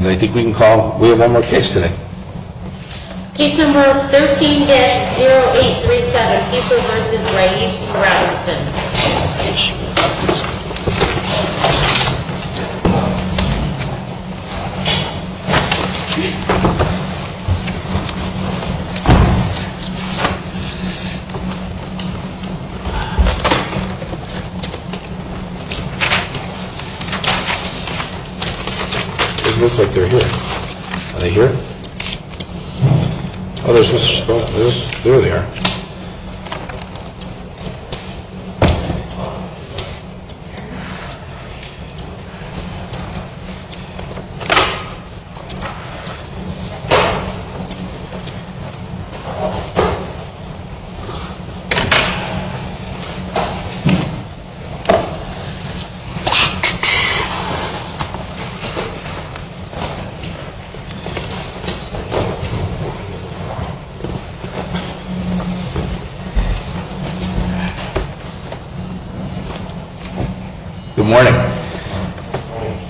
I think we can call, we have one more case today. Case number 13-0837 Cooper v. Ray E. Robinson They look like they are here. Are they here? Oh, there's Mr. Scott. There they are. Good morning.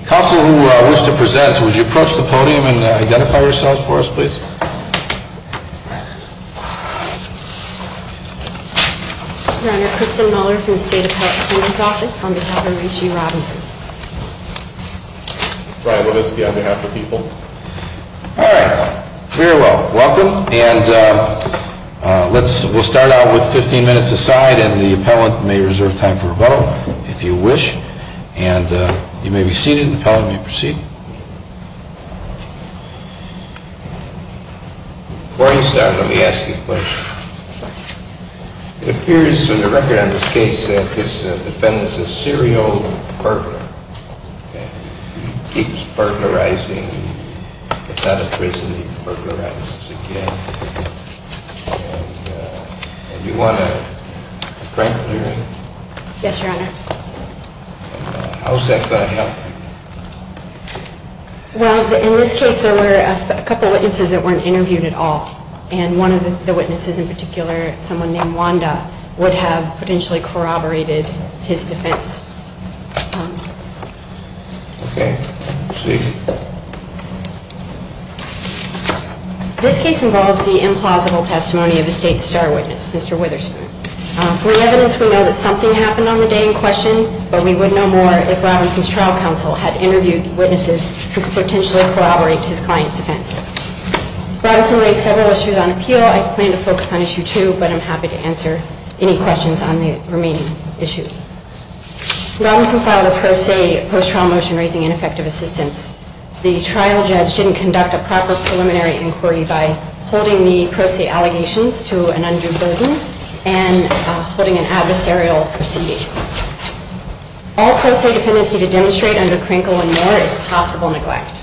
Counsel who wishes to present, would you approach the podium and identify yourselves for us please? Your Honor, Kristen Muller from the State Appellate Superior's Office on behalf of Ray E. Robinson. Brian Levitsky on behalf of the people. All right. Very well. Welcome. And we'll start out with 15 minutes aside and the appellant may reserve time for rebuttal if you wish. And you may be seated and the appellant may proceed. Before you start let me ask you a question. It appears in the record on this case that this defendant is a serial burglar. He keeps burglarizing, gets out of prison, he burglarizes again. Do you want to break the hearing? Yes, Your Honor. How is that going to help? Well, in this case there were a couple of witnesses that weren't interviewed at all. And one of the witnesses in particular, someone named Wanda, would have potentially corroborated his defense. Okay. Speak. This case involves the implausible testimony of a state star witness, Mr. Witherspoon. From the evidence we know that something happened on the day in question, but we would know more if Robinson's trial counsel had interviewed witnesses who could potentially corroborate his client's defense. Robinson raised several issues on appeal. I plan to focus on issue two, but I'm happy to answer any questions on the remaining issues. When Robinson filed a pro se post-trial motion raising ineffective assistance, the trial judge didn't conduct a proper preliminary inquiry by holding the pro se allegations to an undue burden and holding an adversarial proceeding. All pro se defendants need to demonstrate under Krinkle and Moore is possible neglect.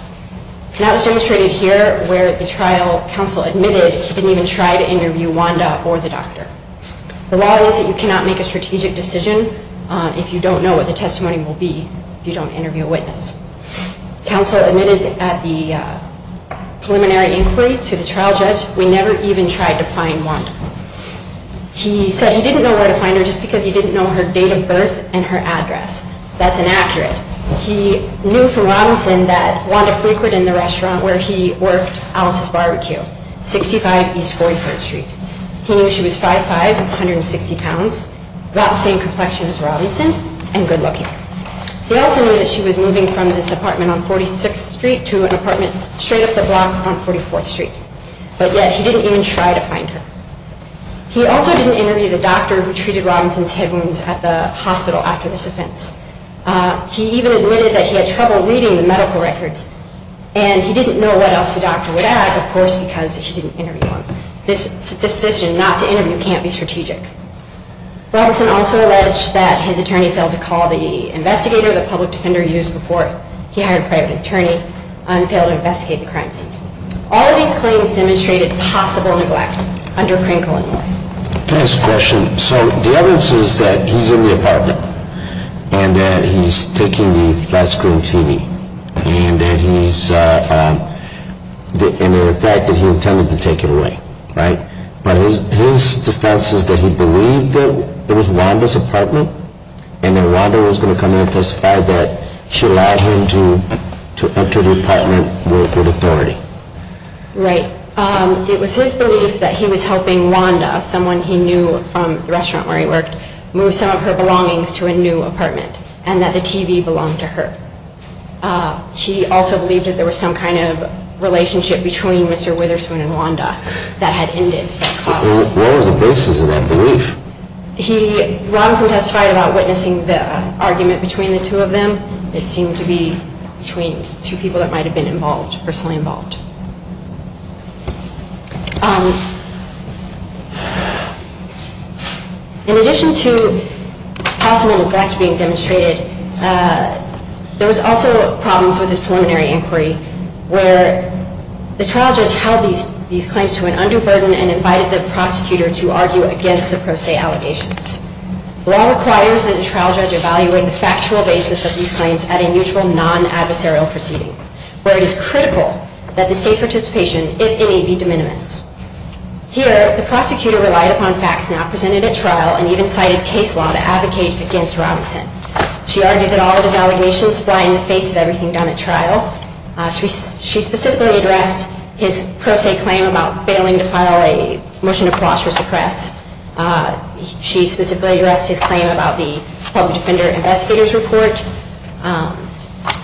And that was demonstrated here where the trial counsel admitted he didn't even try to interview Wanda or the doctor. The law is that you cannot make a strategic decision if you don't know what the testimony will be if you don't interview a witness. Counsel admitted at the preliminary inquiry to the trial judge, we never even tried to find Wanda. He said he didn't know where to find her just because he didn't know her date of birth and her address. That's inaccurate. He knew from Robinson that Wanda frequented the restaurant where he worked Alice's Barbecue, 65 East Fort Worth Street. He knew she was 5'5", 160 pounds, about the same complexion as Robinson, and good looking. He also knew that she was moving from this apartment on 46th Street to an apartment straight up the block on 44th Street. But yet he didn't even try to find her. He also didn't interview the doctor who treated Robinson's head wounds at the hospital after this offense. He even admitted that he had trouble reading the medical records. And he didn't know what else the doctor would add, of course, because he didn't interview him. This decision not to interview can't be strategic. Robinson also alleged that his attorney failed to call the investigator, the public defender he used before he hired a private attorney, and failed to investigate the crime scene. All of these claims demonstrated possible neglect under Krinkle and Moore. Last question. So the evidence is that he's in the apartment, and that he's taking the flat screen TV, and the fact that he intended to take it away, right? But his defense is that he believed that it was Wanda's apartment, and that Wanda was going to come in and testify that she allowed him to enter the apartment with authority. Right. It was his belief that he was helping Wanda, someone he knew from the restaurant where he worked, move some of her belongings to a new apartment, and that the TV belonged to her. He also believed that there was some kind of relationship between Mr. Witherspoon and Wanda that had ended. What was the basis of that belief? Robinson testified about witnessing the argument between the two of them. It seemed to be between two people that might have been involved, personally involved. In addition to possible neglect being demonstrated, there was also problems with his preliminary inquiry, where the trial judge held these claims to an undue burden and invited the prosecutor to argue against the pro se allegations. Law requires that the trial judge evaluate the factual basis of these claims at a mutual non-adversarial proceeding, where it is critical that the state's participation, if any, be de minimis. Here, the prosecutor relied upon facts not presented at trial and even cited case law to advocate against Robinson. She argued that all of his allegations fly in the face of everything done at trial. She specifically addressed his pro se claim about failing to file a motion to cross or suppress. She specifically addressed his claim about the public defender investigator's report.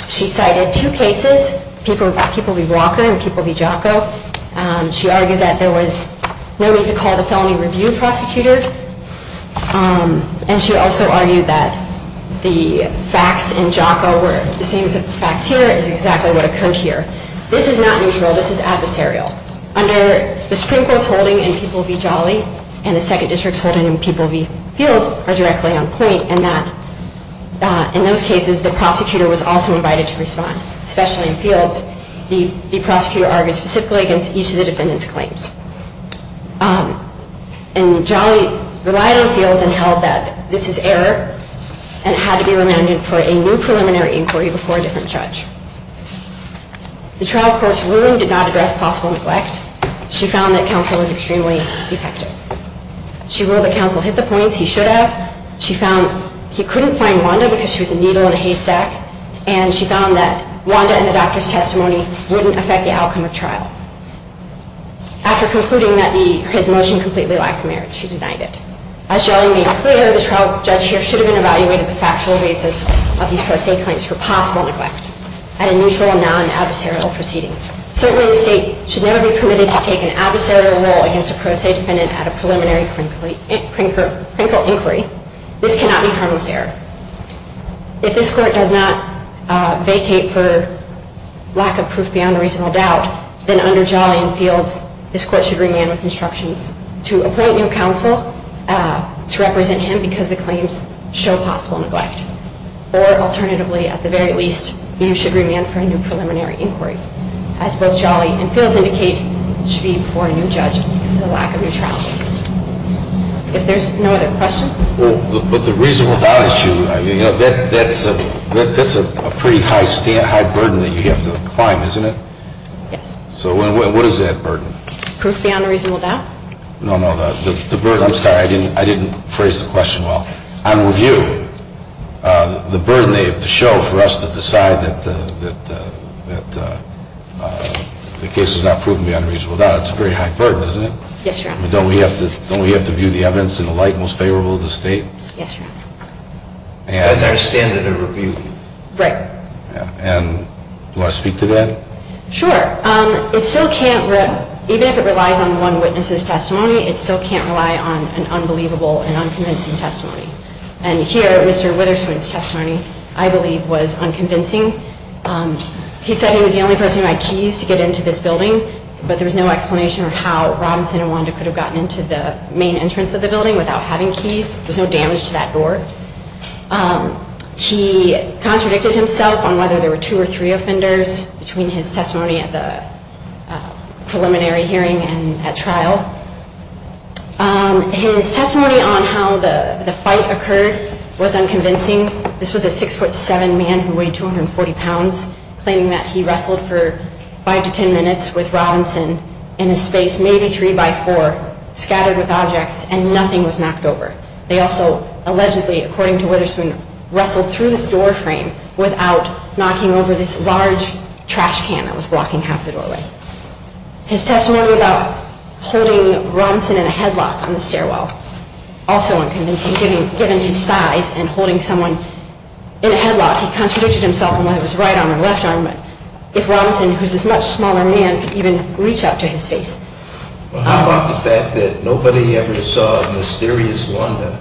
She cited two cases, People v. Walker and People v. Jocko. She argued that there was no need to call the felony review prosecutor. And she also argued that the facts in Jocko were the same as the facts here, is exactly what occurred here. This is not mutual, this is adversarial. Under the Supreme Court's holding in People v. Jolly and the Second District's holding in People v. Fields are directly on point in that in those cases the prosecutor was also invited to respond. Especially in Fields, the prosecutor argued specifically against each of the defendant's claims. And Jolly relied on Fields and held that this is error and it had to be remanded for a new preliminary inquiry before a different judge. The trial court's ruling did not address possible neglect. She found that counsel was extremely defective. She ruled that counsel hit the points he should have. She found he couldn't find Wanda because she was a needle in a haystack. And she found that Wanda and the doctor's testimony wouldn't affect the outcome of trial. After concluding that his motion completely lacks merit, she denied it. As Jolly made clear, the trial judge here should have been evaluated the factual basis of these pro se claims for possible neglect at a neutral, non-adversarial proceeding. Certainly the state should never be permitted to take an adversarial role against a pro se defendant at a preliminary criminal inquiry. This cannot be harmless error. If this court does not vacate for lack of proof beyond a reasonable doubt, then under Jolly and Fields, this court should remand with instructions to appoint new counsel to represent him because the claims show possible neglect. Or alternatively, at the very least, you should remand for a new preliminary inquiry. As both Jolly and Fields indicate, it should be before a new judge because of the lack of neutrality. If there's no other questions. But the reasonable doubt issue, that's a pretty high burden that you have to climb, isn't it? Yes. So what is that burden? Proof beyond a reasonable doubt? No, no, the burden, I'm sorry, I didn't phrase the question well. On review, the burden they have to show for us to decide that the case is not proven beyond a reasonable doubt, it's a very high burden, isn't it? Yes, Your Honor. Don't we have to view the evidence in the light most favorable of the state? Yes, Your Honor. That's our standard of review. Right. And do I speak to that? Sure. It still can't, even if it relies on one witness's testimony, it still can't rely on an unbelievable and unconvincing testimony. And here, Mr. Witherspoon's testimony, I believe, was unconvincing. He said he was the only person who had keys to get into this building, but there was no explanation for how Robinson and Wanda could have gotten into the main entrance of the building without having keys. There was no damage to that door. He contradicted himself on whether there were two or three offenders between his testimony at the preliminary hearing and at trial. His testimony on how the fight occurred was unconvincing. This was a 6'7 man who weighed 240 pounds, claiming that he wrestled for five to ten minutes with Robinson in a space maybe three by four, scattered with objects, and nothing was knocked over. They also allegedly, according to Witherspoon, wrestled through this door frame without knocking over this large trash can that was blocking half the doorway. His testimony about holding Robinson in a headlock on the stairwell, also unconvincing. Given his size and holding someone in a headlock, he contradicted himself on whether it was right arm or left arm, but if Robinson, who's this much smaller man, could even reach up to his face. Well, how about the fact that nobody ever saw a mysterious Wanda?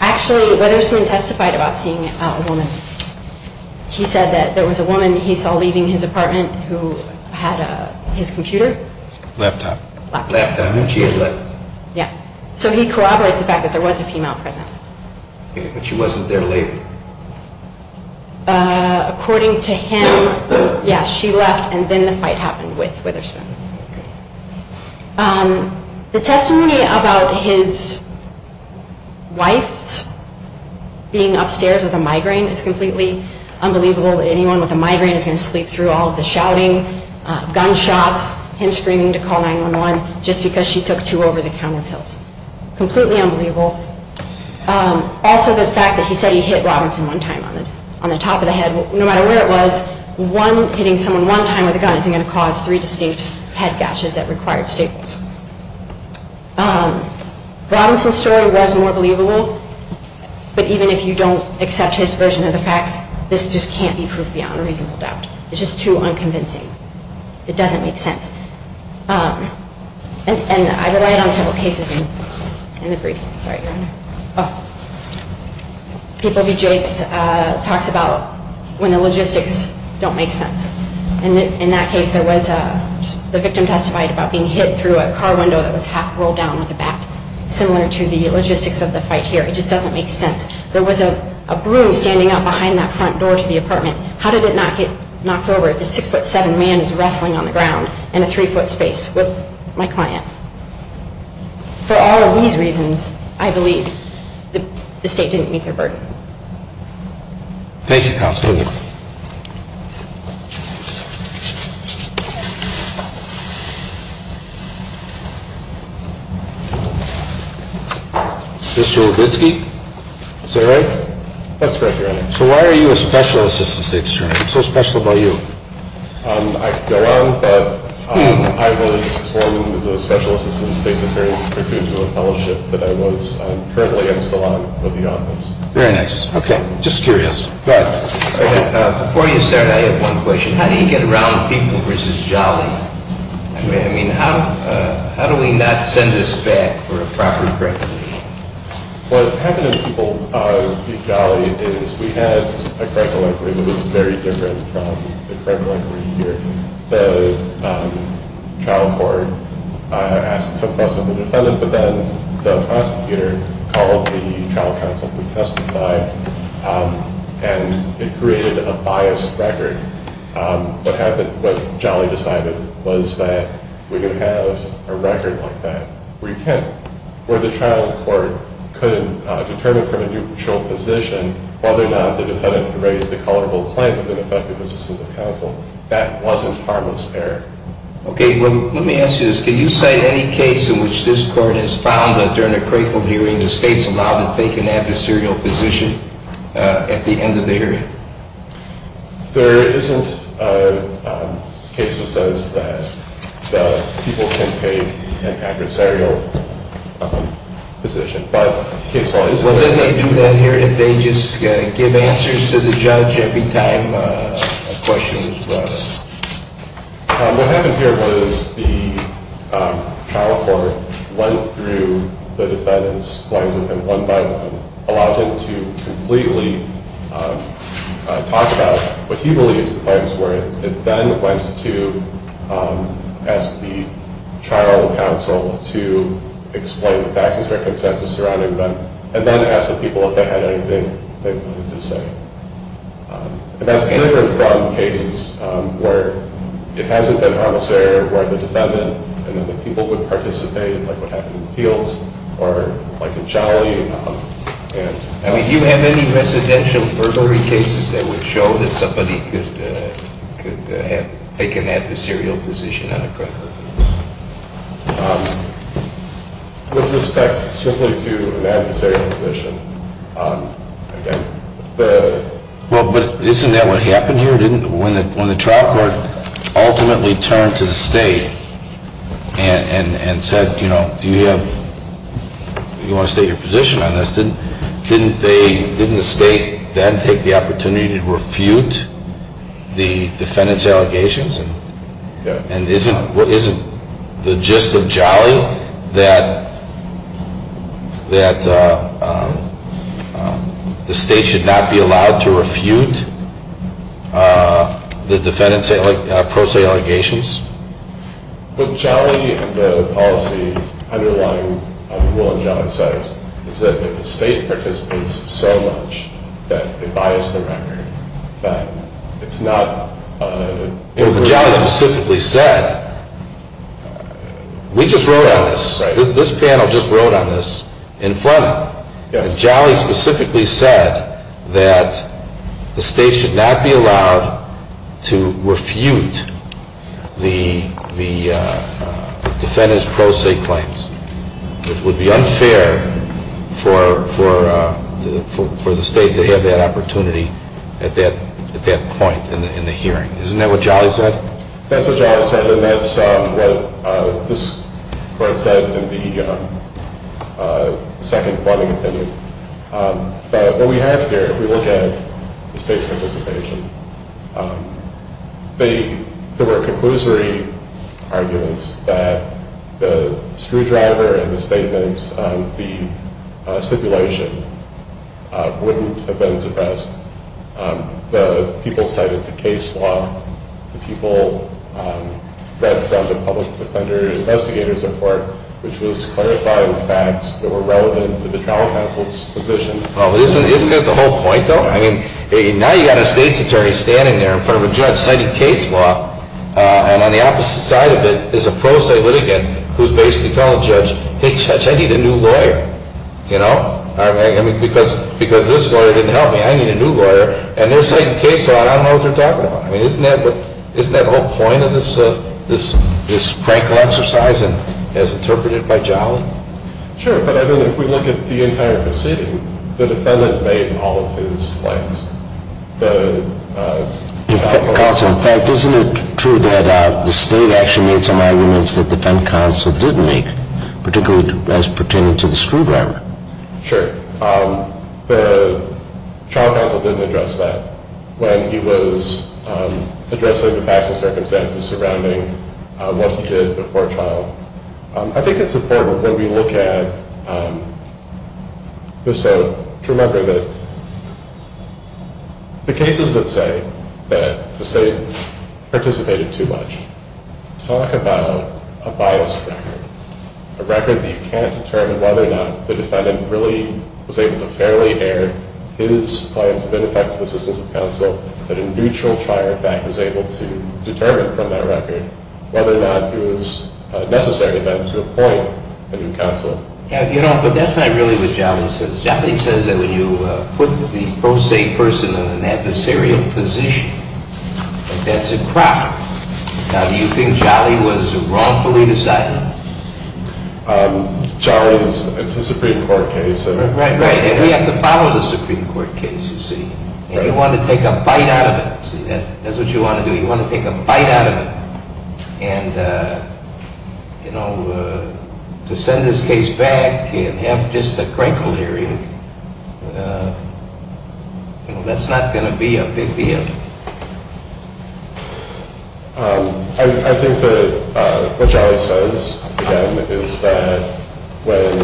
Actually, Witherspoon testified about seeing a woman. He said that there was a woman he saw leaving his apartment who had his computer. Laptop. Laptop. And she had left. Yeah. So he corroborates the fact that there was a female present. But she wasn't there later. According to him, yeah, she left and then the fight happened with Witherspoon. The testimony about his wife's being upstairs with a migraine is completely unbelievable. Anyone with a migraine is going to sleep through all of the shouting, gunshots, him screaming to call 911 just because she took two over-the-counter pills. Completely unbelievable. Also, the fact that he said he hit Robinson one time on the top of the head, no matter where it was, hitting someone one time with a gun isn't going to cause three distinct head gashes that required staples. Robinson's story was more believable, but even if you don't accept his version of the facts, this just can't be proof beyond a reasonable doubt. It's just too unconvincing. It doesn't make sense. And I relied on several cases in the brief. Sorry, Your Honor. Oh. People v. Jakes talks about when the logistics don't make sense. In that case, the victim testified about being hit through a car window that was half rolled down with a bat, similar to the logistics of the fight here. It just doesn't make sense. There was a broom standing out behind that front door to the apartment. How did it not get knocked over if a 6'7 man is wrestling on the ground in a 3' space with my client? For all of these reasons, I believe the State didn't meet their burden. Thank you, Counsel. Thank you. Mr. Lubitsky, is that right? That's correct, Your Honor. So why are you a Special Assistant State Attorney? What's so special about you? I could go on, but I was formed as a Special Assistant State Attorney pursuant to a fellowship that I was currently in salon with the office. Very nice. Okay. Just curious. Go ahead. Before you start, I have one question. How do you get around people v. Jolly? I mean, how do we not send this back for a proper criminal case? What happened in people v. Jolly is we had a criminal inquiry that was very different from the criminal inquiry here. The trial court asked some questions of the defendant, but then the prosecutor called the trial counsel to testify, and it created a biased record. What happened, what Jolly decided was that we're going to have a record like that where the trial court could determine from a neutral position whether or not the defendant raised a culpable claim within effective assistance of counsel. That wasn't harmless error. Okay. Well, let me ask you this. Can you cite any case in which this court has found that during a grateful hearing the state's allowed to take an adversarial position at the end of the hearing? There isn't a case that says that people can take an adversarial position. Well, then they do that here. They just give answers to the judge every time a question is brought up. What happened here was the trial court went through the defendant's claims and one by one allowed him to completely talk about what he believes the claims were. It then went to ask the trial counsel to explain the facts and circumstances surrounding them and then ask the people if they had anything they wanted to say. And that's different from cases where it hasn't been harmless error where the defendant and then the people who participated, like what happened in the fields or like in Jolly. I mean, do you have any residential burglary cases that would show that somebody could have taken an adversarial position on a criminal case? With respect simply to an adversarial position, again, the— Well, but isn't that what happened here, didn't it, when the trial court ultimately turned to the state and said, you know, do you want to state your position on this, didn't the state then take the opportunity to refute the defendant's allegations? And isn't the gist of Jolly that the state should not be allowed to refute the defendant's pro se allegations? But Jolly and the policy underlying the rule in Jolly says is that if the state participates so much that they bias the record, it's not— Jolly specifically said—we just wrote on this. This panel just wrote on this in Fleming. Jolly specifically said that the state should not be allowed to refute the defendant's pro se claims. It would be unfair for the state to have that opportunity at that point in the hearing. Isn't that what Jolly said? That's what Jolly said, and that's what this court said in the second Fleming opinion. But what we have here, if we look at the state's participation, there were conclusory arguments that the screwdriver in the statements of the stipulation wouldn't have been suppressed. The people cited to case law, the people read from the public defender's investigator's report, which was clarifying facts that were relevant to the trial counsel's position. Isn't that the whole point, though? Now you've got a state's attorney standing there in front of a judge citing case law, and on the opposite side of it is a pro se litigant who's basically telling the judge, hey, judge, I need a new lawyer, because this lawyer didn't help me. I need a new lawyer, and they're citing case law, and I don't know what they're talking about. Isn't that the whole point of this practical exercise as interpreted by Jolly? Sure, but I mean, if we look at the entire proceeding, the defendant made all of his claims. Counsel, in fact, isn't it true that the state actually made some arguments that the defense counsel didn't make, particularly as pertaining to the screwdriver? Sure. The trial counsel didn't address that when he was addressing the facts and circumstances surrounding what he did before trial. I think it's important when we look at this, though, to remember that the cases that say that the state participated too much talk about a biased record, a record that you can't determine whether or not the defendant really was able to fairly air his claims of ineffective assistance of counsel, but in mutual trial, in fact, the defendant was able to determine from that record whether or not it was necessary then to appoint a new counsel. You know, but that's not really what Jolly says. Jolly says that when you put the pro se person in an adversarial position, that that's a crop. Now, do you think Jolly was wrongfully decided? Jolly, it's a Supreme Court case. Right, right, and we have to follow the Supreme Court case, you see. Right. And you want to take a bite out of it, see. That's what you want to do. You want to take a bite out of it. And, you know, to send this case back and have just a crankle there, you know, that's not going to be a big deal. I think that what Jolly says, again, is that when…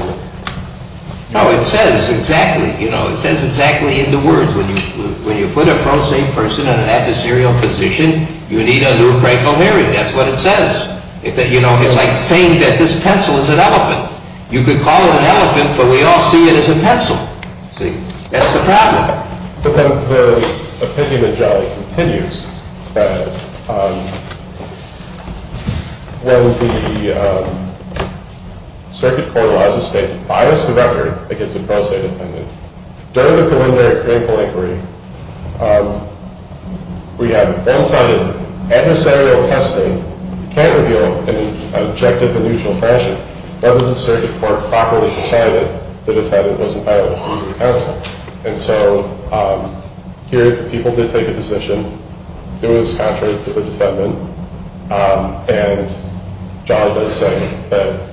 No, it says exactly, you know, it says exactly in the words, when you put a pro se person in an adversarial position, you need a new crankle hearing. That's what it says. You know, it's like saying that this pencil is an elephant. You could call it an elephant, but we all see it as a pencil, see. That's the problem. But then the opinion of Jolly continues that when the circuit court allows a state to bias the record against a pro se defendant, during the preliminary crankle inquiry, we have one-sided adversarial testing. We can't reveal in an objective and usual fashion whether the circuit court properly decided the defendant was entitled to be recounted. And so here the people did take a position. It was contrary to the defendant. And Jolly does say that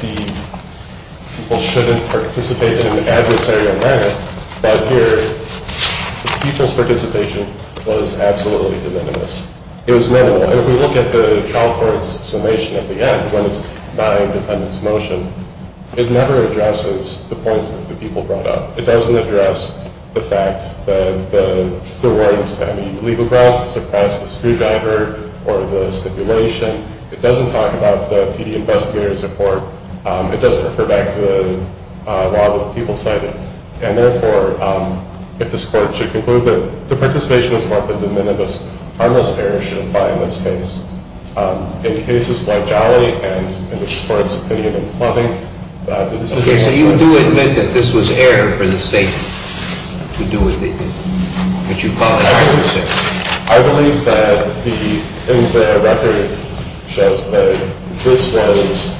the people shouldn't participate in an adversarial manner, but here the people's participation was absolutely de minimis. It was minimal. And if we look at the trial court's summation at the end, when it's denying defendant's motion, it never addresses the points that the people brought up. It doesn't address the fact that the words, I mean, leave a grass to suppress the screwdriver or the stipulation. It doesn't talk about the PD investigator's report. It doesn't refer back to the law that the people cited. And therefore, if the court should conclude that the participation is more than de minimis, harmless error should apply in this case. In cases like Jolly and in this court's opinion in Plumbing, the decision- Okay, so you do admit that this was error for the state to do what you call an adversarial test? I believe that in the record shows that this was,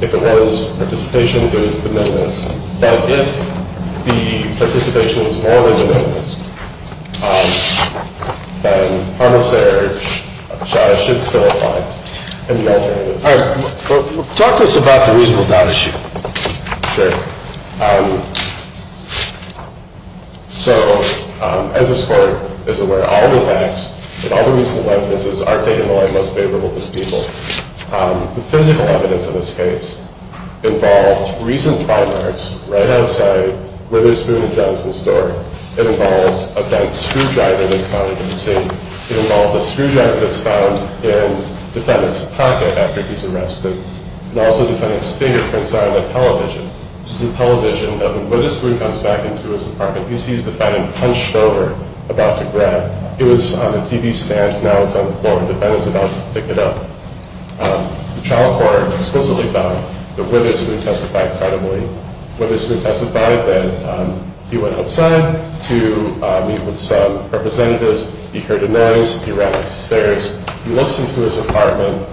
if it was participation, it was de minimis. But if the participation was more than de minimis, then harmless error should still apply in the alternative. All right. Talk to us about the reasonable doubt issue. Sure. So, as this court is aware, all the facts and all the recent witnesses are taken away most favorable to the people. The physical evidence in this case involved recent crime arts right outside Witherspoon and Johnson's door. It involved a bent screwdriver that's found in the scene. It involved a screwdriver that's found in the defendant's pocket after he's arrested. And also the defendant's fingerprints are on the television. This is a television that when Witherspoon comes back into his apartment, he sees the defendant hunched over about to grab. It was on the TV stand. Now it's on the floor. The defendant's about to pick it up. The trial court explicitly found that Witherspoon testified credibly. Witherspoon testified that he went outside to meet with some representatives. He heard a noise. He ran upstairs. He looks into his apartment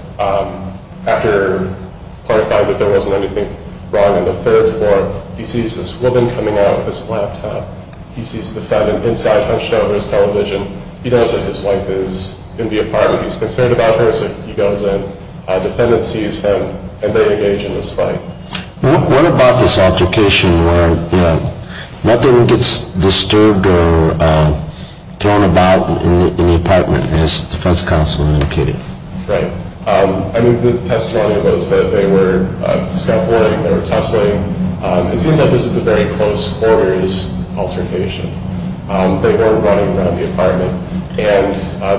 after clarifying that there wasn't anything wrong on the third floor. He sees this woman coming out with his laptop. He sees the defendant inside hunched over his television. He knows that his wife is in the apartment. He's concerned about her. So he goes in. The defendant sees him, and they engage in this fight. What about this altercation where nothing gets disturbed or thrown about in the apartment, as defense counsel indicated? Right. I mean, the testimony was that they were scuffling. They were tussling. It seems like this is a very close quarters altercation. They were running around the apartment, and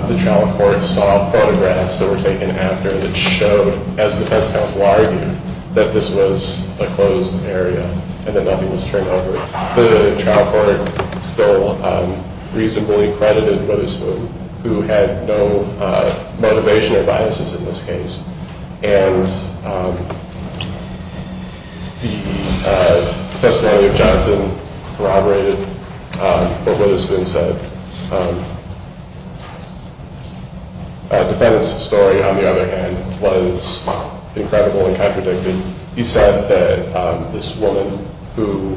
the trial court saw photographs that were taken after that showed, as defense counsel argued, that this was a closed area and that nothing was turned over. The trial court still reasonably credited Witherspoon, who had no motivation or biases in this case. And the testimony of Johnson corroborated what Witherspoon said. The defendant's story, on the other hand, was incredible and contradicting. He said that this woman who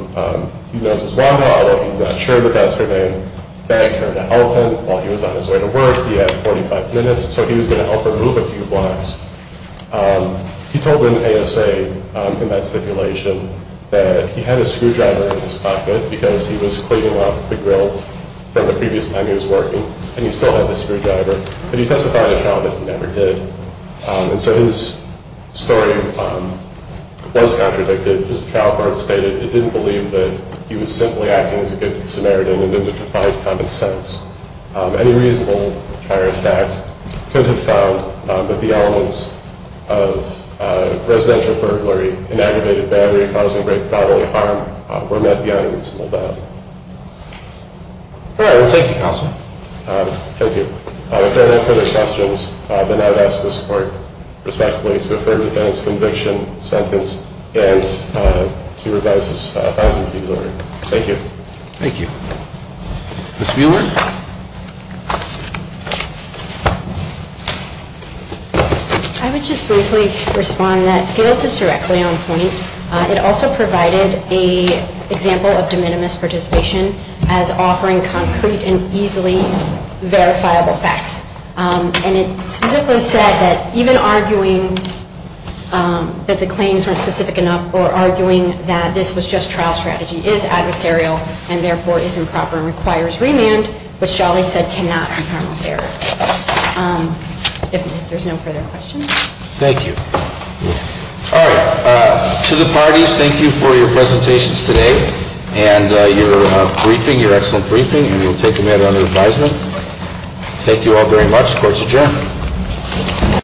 he knows as Wanda, although he's not sure that that's her name, begged her to help him while he was on his way to work. He had 45 minutes, so he was going to help her move a few blocks. He told an ASA in that stipulation that he had a screwdriver in his pocket because he was cleaning up the grill from the previous time he was working, and he still had the screwdriver. But he testified to trial that he never did. And so his story was contradicted. His trial court stated it didn't believe that he was simply acting as a good Samaritan and didn't provide common sense. Any reasonable trier of fact could have found that the elements of residential burglary and aggravated battery causing great bodily harm were met beyond a reasonable doubt. All right. Well, thank you, Counselor. Thank you. If there are no further questions, then I would ask the support, respectively, to refer to the defense conviction sentence and to revise this fine-sum fees order. Thank you. Thank you. Ms. Bueller? I would just briefly respond that Gail's is directly on point. It also provided an example of de minimis participation as offering concrete and easily verifiable facts. And it specifically said that even arguing that the claims weren't specific enough or arguing that this was just trial strategy is adversarial and, therefore, is improper and requires remand, which Jolly said cannot be carnal serif. If there's no further questions? Thank you. All right. To the parties, thank you for your presentations today and your briefing, your excellent briefing. And we will take the matter under advisement. Thank you all very much. Court is adjourned.